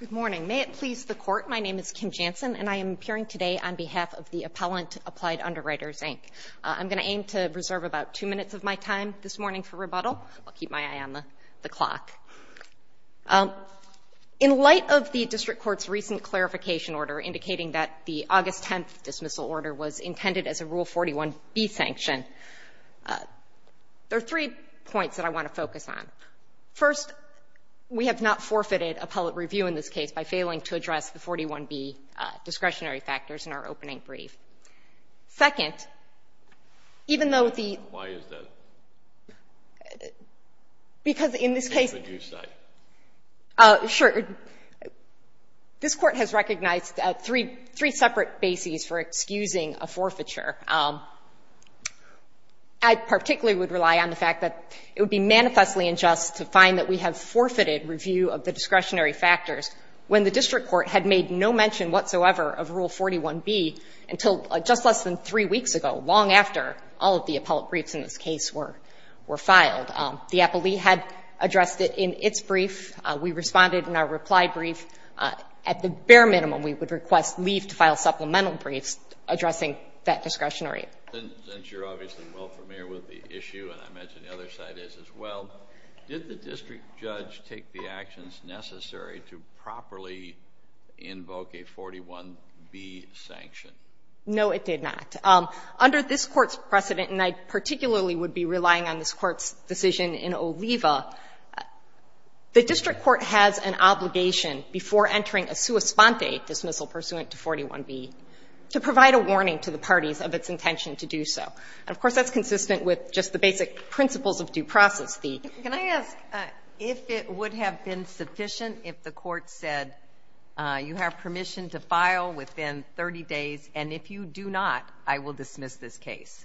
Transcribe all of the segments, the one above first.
Good morning. May it please the Court, my name is Kim Jansen, and I am appearing today on behalf of the Appellant Applied Underwriters, Inc. I'm going to aim to reserve about two minutes of my time this morning for rebuttal. I'll keep my eye on the clock. In light of the district court's recent clarification order indicating that the August 10th dismissal order was intended as a Rule 41b sanction, there are three points that I want to focus on. First, we have not forfeited a public review in this case by failing to address the 41b discretionary factors in our opening brief. Second, even though the ---- Why is that? Because in this case ---- What would you say? Sure. This Court has recognized three separate bases for excusing a forfeiture. I particularly would rely on the fact that it would be manifestly unjust to find that we have forfeited review of the discretionary factors when the district court had made no mention whatsoever of Rule 41b until just less than three weeks ago, long after all of the appellate briefs in this case were filed. The appellee had addressed it in its brief. We responded in our reply brief. At the bare minimum, we would request leave to file supplemental briefs addressing that discretionary. Since you're obviously well familiar with the issue, and I imagine the other side is as well, did the district judge take the actions necessary to properly invoke a 41b sanction? No, it did not. Under this Court's precedent, and I particularly would be relying on this Court's decision in Oliva, the district court has an obligation before entering a sua sponte dismissal pursuant to 41b to provide a warning to the parties of its intention to do so. And, of course, that's consistent with just the basic principles of due process thee. Can I ask if it would have been sufficient if the Court said, you have permission to file within 30 days, and if you do not, I will dismiss this case?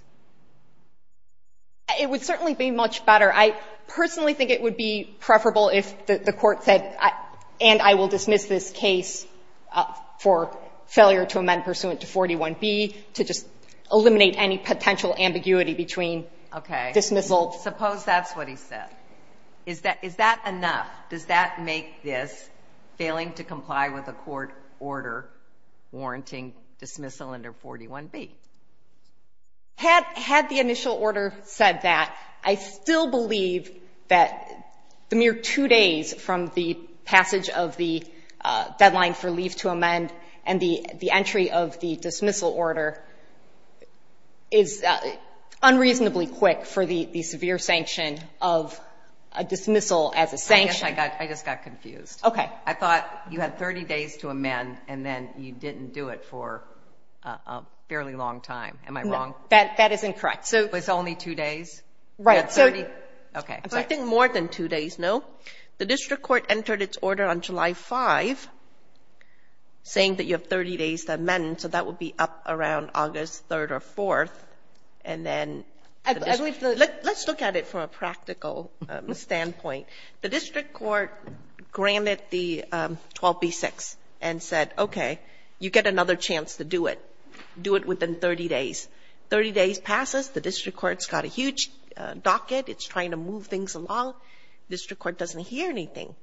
It would certainly be much better. I personally think it would be preferable if the Court said, and I will dismiss this case for failure to amend pursuant to 41b to just eliminate any potential ambiguity between dismissal. Suppose that's what he said. Is that enough? Does that make this failing to comply with a court order warranting dismissal under 41b? Had the initial order said that, I still believe that the mere two days from the deadline for leave to amend and the entry of the dismissal order is unreasonably quick for the severe sanction of a dismissal as a sanction. I just got confused. Okay. I thought you had 30 days to amend, and then you didn't do it for a fairly long time. Am I wrong? That is incorrect. So it's only two days? Right. So I think more than two days, no. The district court entered its order on July 5 saying that you have 30 days to amend, so that would be up around August 3rd or 4th. And then let's look at it from a practical standpoint. The district court granted the 12b-6 and said, okay, you get another chance to do it. Do it within 30 days. 30 days passes. The district court's got a huge docket. It's trying to move things along. District court doesn't hear anything.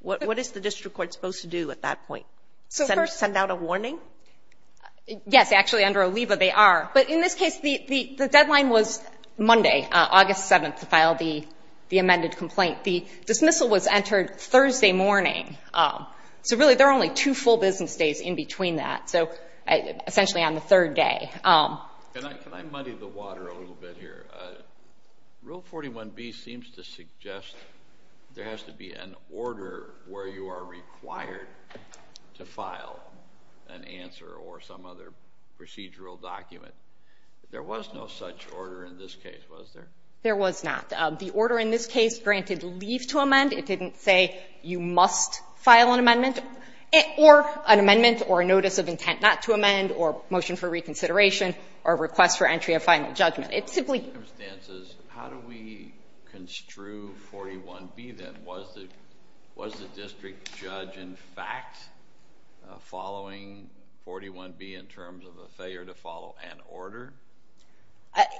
What is the district court supposed to do at that point? Send out a warning? Yes. Actually, under Oliva, they are. But in this case, the deadline was Monday, August 7th, to file the amended complaint. The dismissal was entered Thursday morning. So really, there are only two full business days in between that, so essentially on the third day. Can I muddy the water a little bit here? Rule 41b seems to suggest there has to be an order where you are required to file an answer or some other procedural document. There was no such order in this case, was there? There was not. The order in this case granted leave to amend. It didn't say you must file an amendment or an amendment or a notice of intent not to amend or motion for reconsideration or request for entry of final judgment. It simply... Under those circumstances, how do we construe 41b, then? Was the district judge, in fact, following 41b in terms of a failure to follow an order?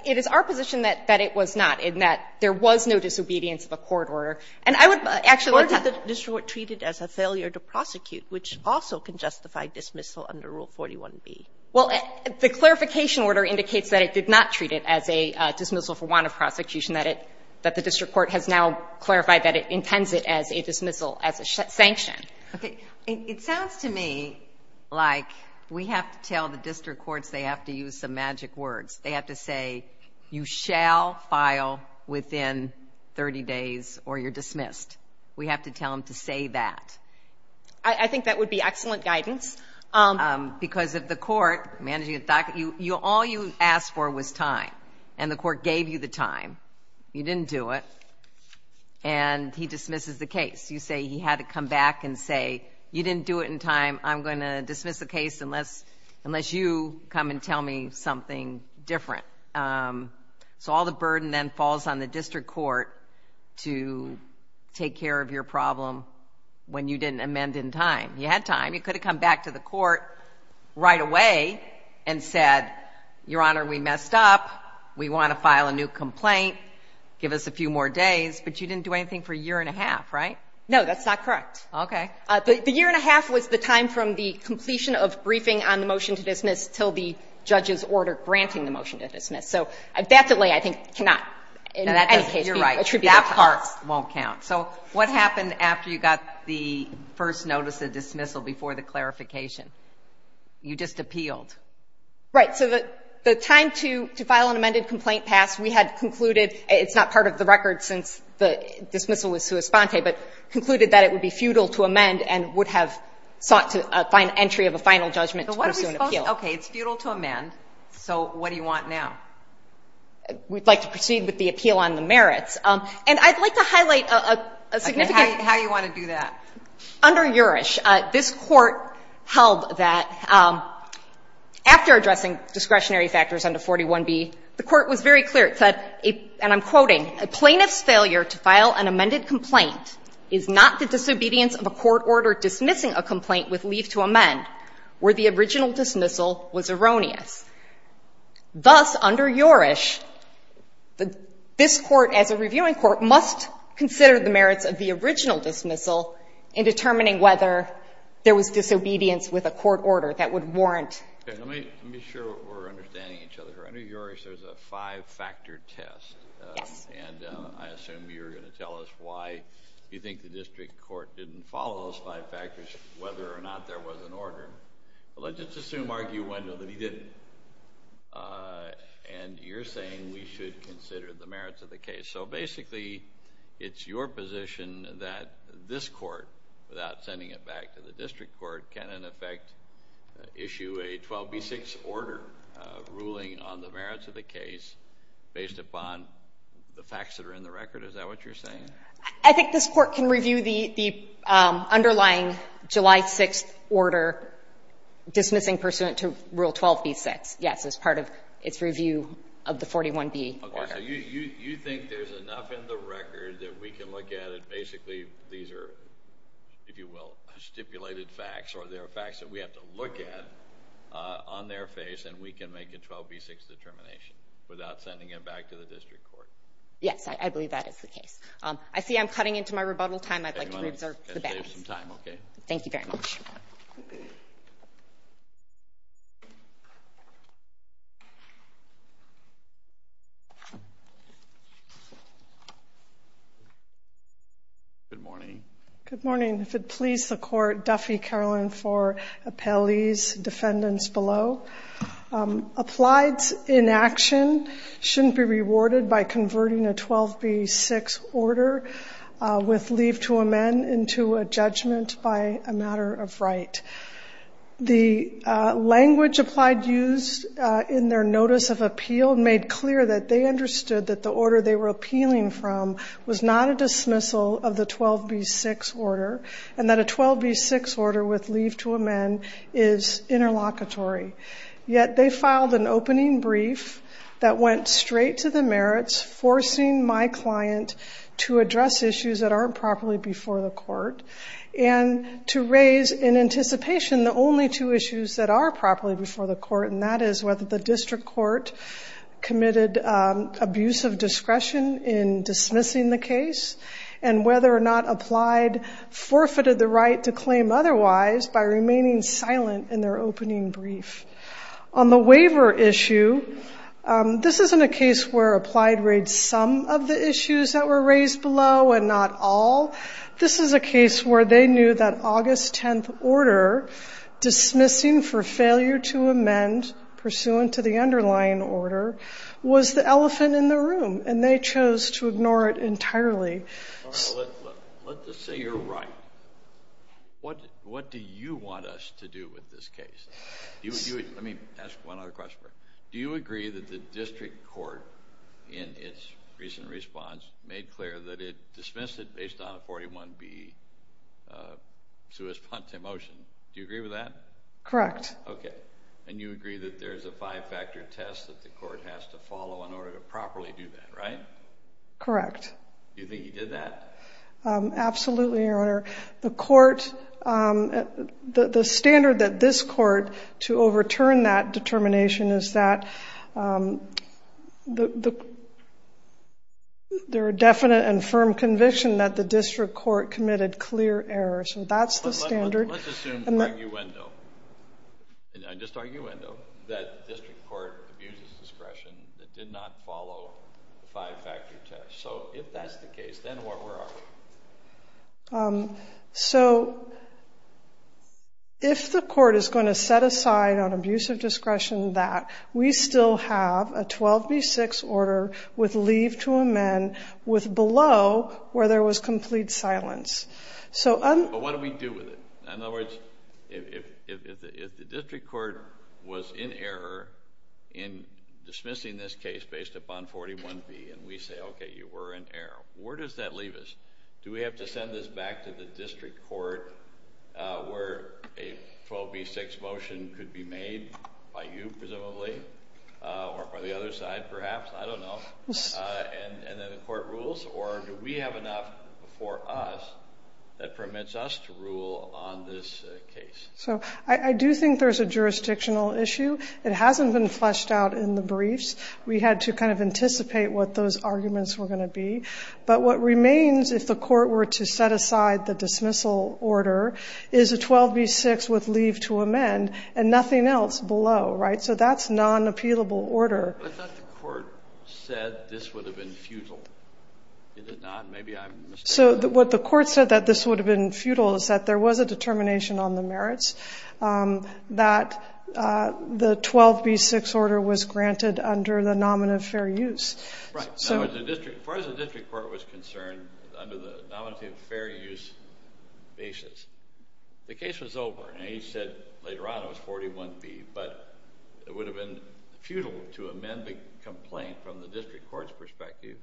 It is our position that it was not, in that there was no disobedience of a court order. And I would actually... Or did the district court treat it as a failure to prosecute, which also can justify dismissal under Rule 41b? Well, the clarification order indicates that it did not treat it as a dismissal for want of prosecution, that the district court has now clarified that it intends it as a dismissal, as a sanction. Okay. It sounds to me like we have to tell the district courts they have to use some magic words. They have to say, you shall file within 30 days or you're dismissed. We have to tell them to say that. I think that would be excellent guidance. Because if the court, all you asked for was time, and the court gave you the time, you didn't do it, and he dismisses the case. You say he had to come back and say, you didn't do it in time, I'm going to dismiss the case unless you come and tell me something different. So all the burden then falls on the district court to take care of your problem when you didn't amend in time. You had time. You could have come back to the court right away and said, Your Honor, we messed up. We want to file a new complaint. Give us a few more days. But you didn't do anything for a year and a half, right? No, that's not correct. Okay. The year and a half was the time from the completion of briefing on the motion to dismiss until the judge's order granting the motion to dismiss. So that delay, I think, cannot, in any case, be attributed to us. You're right. That part won't count. So what happened after you got the first notice of dismissal before the clarification? You just appealed. Right. So the time to file an amended complaint passed. We had concluded, it's not part of the record since the dismissal was sua sponte, but concluded that it would be futile to amend and would have sought to find entry of a final judgment to pursue an appeal. Okay. It's futile to amend. So what do you want now? We'd like to proceed with the appeal on the merits. And I'd like to highlight a significant How do you want to do that? Under Urish, this Court held that after addressing discretionary factors under 41b, the Court was very clear. It said, and I'm quoting, A plaintiff's failure to file an amended complaint is not the disobedience of a court order dismissing a complaint with leave to amend where the original dismissal was erroneous. Thus, under Urish, this Court, as a reviewing Court, must consider the merits of the original dismissal in determining whether there was disobedience with a court order that would warrant Okay. Let me make sure we're understanding each other. Under Urish, there's a five-factor test. Yes. And I assume you're going to tell us why you think the district court didn't follow those five factors, whether or not there was an order. Well, let's just assume, argue, window, that he didn't. And you're saying we should consider the merits of the case. So basically, it's your position that this Court, without sending it back to the district court, can, in effect, issue a 12b-6 order ruling on the merits of the case based upon the facts that are in the record. Is that what you're saying? I think this Court can review the underlying July 6th order dismissing pursuant to Rule 12b-6, yes, as part of its review of the 41b. Okay. So you think there's enough in the record that we can look at it, basically, these are, if you will, stipulated facts, or there are facts that we have to look at on their face, and we can make a 12b-6 determination without sending it back to the district court? Yes. I believe that is the case. I see I'm cutting into my rebuttal time. I'd like to re-observe the balance. Let's save some time. Okay. Thank you very much. Good morning. Good morning. If it please the Court, Duffy Carlin for appellees, defendants below. Applied inaction shouldn't be rewarded by converting a 12b-6 order with leave to amend into a judgment by a matter of right. The language applied used in their notice of appeal made clear that they understood that the order they were appealing from was not a dismissal of the 12b-6 order, and that a 12b-6 order with leave to amend is interlocutory. Yet they filed an opening brief that went straight to the merits, forcing my client to address issues that aren't properly before the court, and to raise in anticipation the only two issues that are properly before the court, and that is whether the district court committed abuse of discretion in dismissing the case, and whether or not applied forfeited the right to claim otherwise by remaining silent in their opening brief. On the waiver issue, this isn't a case where applied raised some of the issues that were raised below and not all. This is a case where they knew that August 10th order, dismissing for failure to amend pursuant to the underlying order, was the elephant in the room, and they chose to ignore it entirely. Let's just say you're right. What do you want us to do with this case? Let me ask one other question. Do you agree that the district court, in its recent response, made clear that it dismissed it based on a 41b suespante motion? Do you agree with that? Correct. Okay. And you agree that there's a five-factor test that the court has to follow in order to properly do that, right? Correct. You think he did that? Absolutely, Your Honor. The standard that this court, to overturn that determination, is that there are definite and firm conviction that the district court committed clear errors, and that's the standard. Let's assume, arguendo, just arguendo, that district court abuses discretion that did not follow the five-factor test. So if that's the case, then where are we? So if the court is going to set aside on abuse of discretion that, we still have a 12b-6 order with leave to amend with below where there was complete silence. But what do we do with it? In other words, if the district court was in error in dismissing this case based upon 41b, and we say, okay, you were in error, where does that leave us? Do we have to send this back to the district court where a 12b-6 motion could be made by you, presumably, or by the other side, perhaps, I don't know, and then the court rules? Or do we have enough before us that permits us to rule on this case? So I do think there's a jurisdictional issue. It hasn't been fleshed out in the briefs. We had to kind of anticipate what those arguments were going to be. But what remains, if the court were to set aside the dismissal order, is a 12b-6 with leave to amend and nothing else below, right? So that's non-appealable order. But I thought the court said this would have been futile. Is it not? Maybe I'm mistaken. So what the court said, that this would have been futile, is that there was a determination on the merits that the 12b-6 order was granted under the nominative fair use. Right. Now, as far as the district court was concerned, under the nominative fair use basis, the case was over. And he said later on it was 41b. But it would have been futile to amend the complaint from the district court's perspective.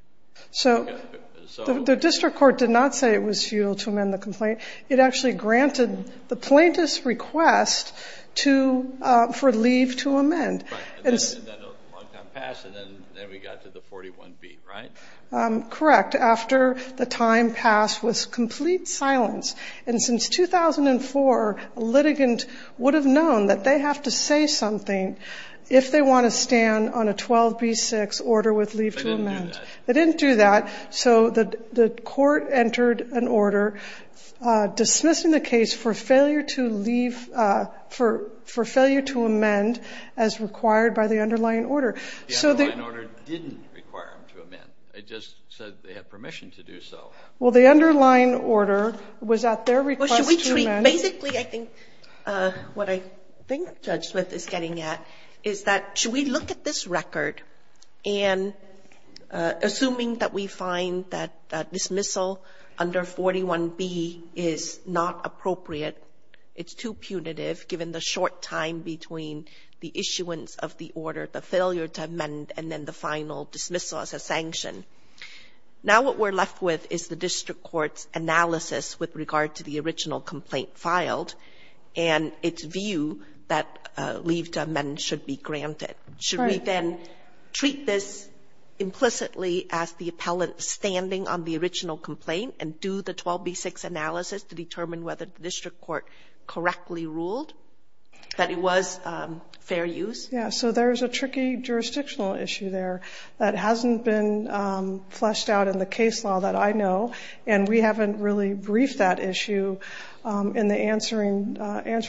So the district court did not say it was futile to amend the complaint. It actually granted the plaintiff's request for leave to amend. Right. And then a long time passed, and then we got to the 41b, right? Correct. After the time passed was complete silence. And since 2004, a litigant would have known that they have to say something if they want to stand on a 12b-6 order with leave to amend. They didn't do that. So the court entered an order dismissing the case for failure to leave, for failure to amend, as required by the underlying order. The underlying order didn't require them to amend. It just said they had permission to do so. Well, the underlying order was at their request to amend. Basically, I think what I think Judge Smith is getting at is that, should we look at this record and, assuming that we find that dismissal under 41b is not appropriate, it's too punitive given the short time between the issuance of the order, the failure to amend, and then the final dismissal as a sanction, now what we're left with is the district court's analysis with regard to the original complaint filed and its view that leave to amend should be granted. Should we then treat this implicitly as the appellant standing on the original complaint and do the 12b-6 analysis to determine whether the district court correctly ruled that it was fair use? Yeah. So there's a tricky jurisdictional issue there that hasn't been fleshed out in the case law that I know. And we haven't really briefed that issue in the answering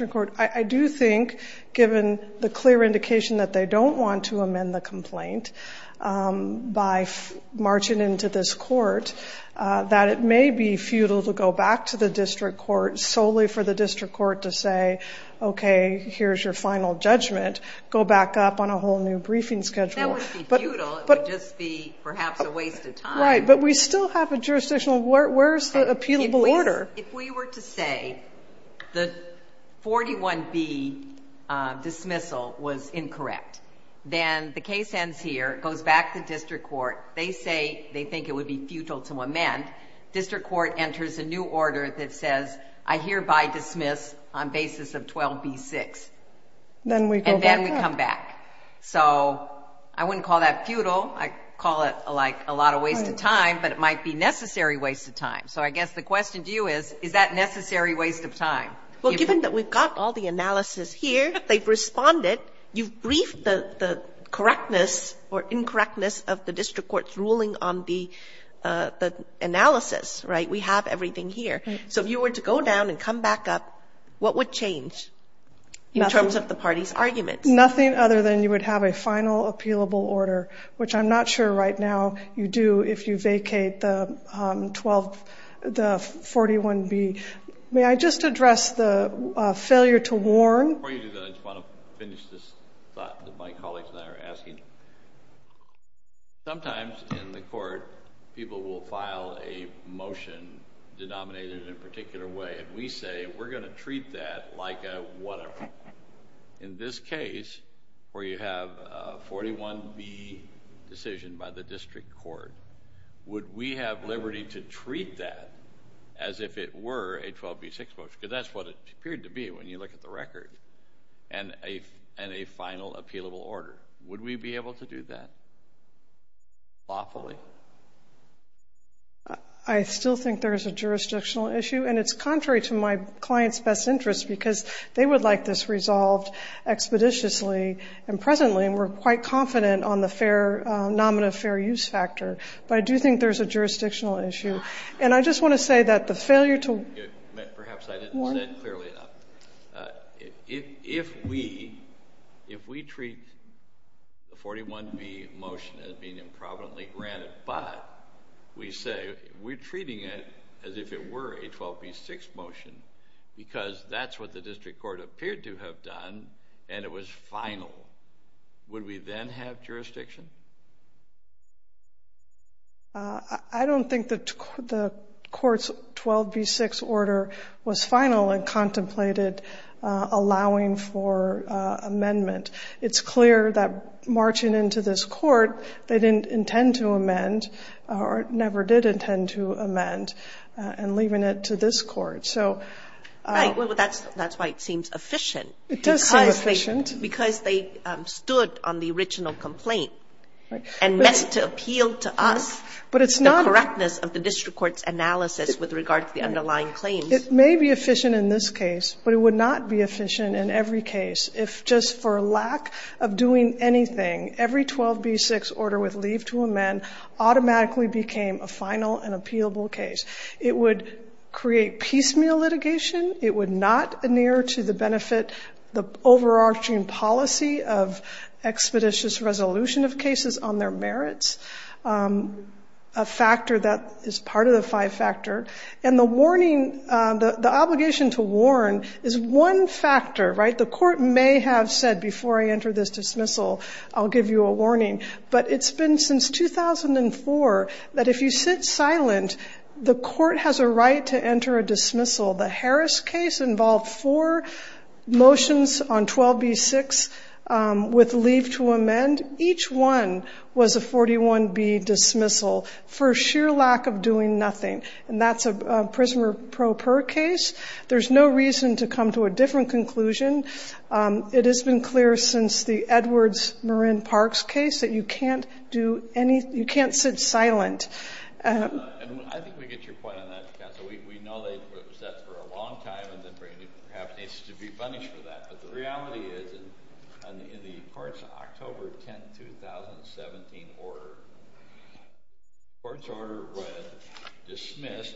court. I do think, given the clear indication that they don't want to amend the complaint by marching into this court, that it may be futile to go back to the district court solely for the district court to say, okay, here's your final judgment. Go back up on a whole new briefing schedule. That would be futile. It would just be perhaps a waste of time. Right. But we still have a jurisdictional, where's the appealable order? If we were to say the 41b dismissal was incorrect, then the case ends here. It goes back to district court. They say they think it would be futile to amend. District court enters a new order that says, I hereby dismiss on basis of 12b-6. Then we go back. And then we come back. So I wouldn't call that futile. I call it like a lot of waste of time, but it might be necessary waste of time. So I guess the question to you is, is that necessary waste of time? Well, given that we've got all the analysis here, they've responded. You've briefed the correctness or incorrectness of the district court's ruling on the analysis, right? We have everything here. So if you were to go down and come back up, what would change in terms of the party's argument? Nothing other than you would have a final appealable order, which I'm not sure right now you do if you vacate the 41b. May I just address the failure to warn? Before you do that, I just want to finish this thought that my colleagues and I are asking. Sometimes in the court, people will file a motion denominated in a particular way. And we say, we're going to treat that like a whatever. In this case, where you have a 41b decision by the district court, would we have liberty to treat that as if it were a 12b-6 motion? Because that's what it appeared to be when you look at the record. And a final appealable order. Would we be able to do that lawfully? I still think there is a jurisdictional issue. And it's contrary to my client's best interest, because they would like this resolved expeditiously and presently. And we're quite confident on the fair, nominative fair use factor. But I do think there's a jurisdictional issue. And I just want to say that the failure to Perhaps I didn't say it clearly enough. If we treat the 41b motion as being improvidently granted, but we say, we're treating it as if it were a 12b-6 motion, because that's what the district court appeared to have done. And it was final. Would we then have jurisdiction? I don't think the court's 12b-6 order was final and contemplated allowing for amendment. It's clear that marching into this court, they didn't intend to amend, or never did intend to amend, and leaving it to this court. So That's why it seems efficient. It does seem efficient. Because they stood on the original complaint and met to appeal to us the correctness of the district court's analysis with regard to the underlying claims. It may be efficient in this case, but it would not be efficient in every case if just for lack of doing anything, every 12b-6 order with leave to amend automatically became a final and appealable case. It would create piecemeal litigation. It would not near to the benefit, the overarching policy of expeditious resolution of cases on their merits, a factor that is part of the five-factor. And the warning, the obligation to warn is one factor, right? The court may have said, before I enter this dismissal, I'll give you a warning. But it's been since 2004 that if you sit silent, the court has a right to enter a dismissal. The Harris case involved four motions on 12b-6 with leave to amend. Each one was a 41b dismissal for sheer lack of doing nothing. And that's a prisoner pro per case. There's no reason to come to a different conclusion. It has been clear since the Edwards-Marin-Parks case that you can't sit silent. And I think we get your point on that, counsel. We know that it was set for a long time and then bringing it up needs to be punished for that. But the reality is, in the court's October 10, 2017 order, the court's order was dismissed,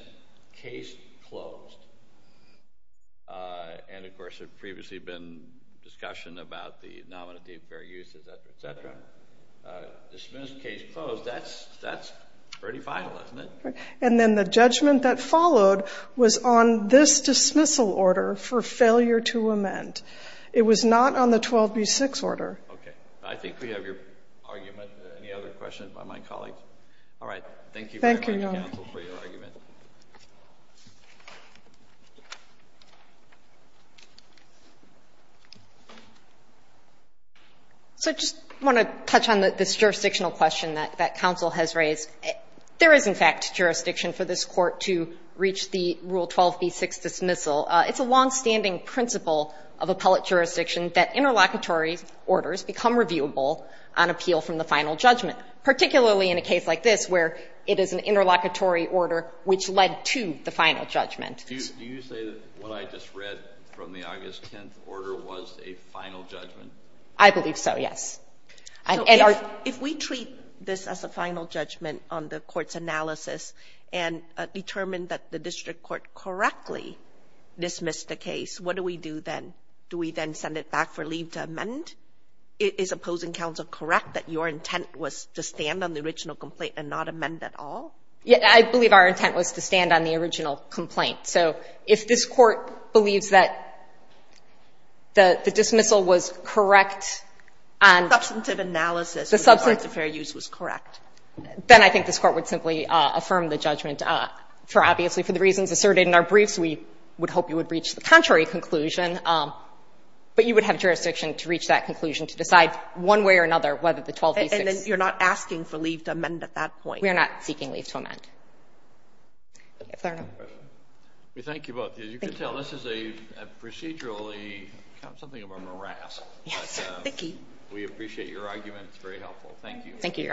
case closed. And of course, there had previously been discussion about the nominative fair use, et cetera, et cetera. Dismissed, case closed. That's pretty vital, isn't it? Right. And then the judgment that followed was on this dismissal order for failure to amend. It was not on the 12b-6 order. Okay. I think we have your argument. Any other questions by my colleagues? All right. Thank you very much, counsel, for your argument. So I just want to touch on this jurisdictional question that counsel has raised. There is, in fact, jurisdiction for this court to reach the Rule 12b-6 dismissal. It's a longstanding principle of appellate jurisdiction that interlocutory orders become reviewable on appeal from the final judgment, particularly in a case like this where it is an interlocutory order where the final judgment is reviewable. Which led to the final judgment. Do you say that what I just read from the August 10th order was a final judgment? I believe so, yes. If we treat this as a final judgment on the court's analysis and determine that the district court correctly dismissed the case, what do we do then? Do we then send it back for leave to amend? Is opposing counsel correct that your intent was to stand on the original complaint and not amend at all? I believe our intent was to stand on the original complaint. So if this Court believes that the dismissal was correct on the substantive analysis, the substance of fair use was correct, then I think this Court would simply affirm the judgment for, obviously, for the reasons asserted in our briefs. We would hope you would reach the contrary conclusion, but you would have jurisdiction to reach that conclusion to decide one way or another whether the 12b-6. You're not asking for leave to amend at that point? We're not seeking leave to amend. We thank you both. As you can tell, this is a procedurally something of a morass. We appreciate your argument. It's very helpful. Thank you. Thank you, Your Honor.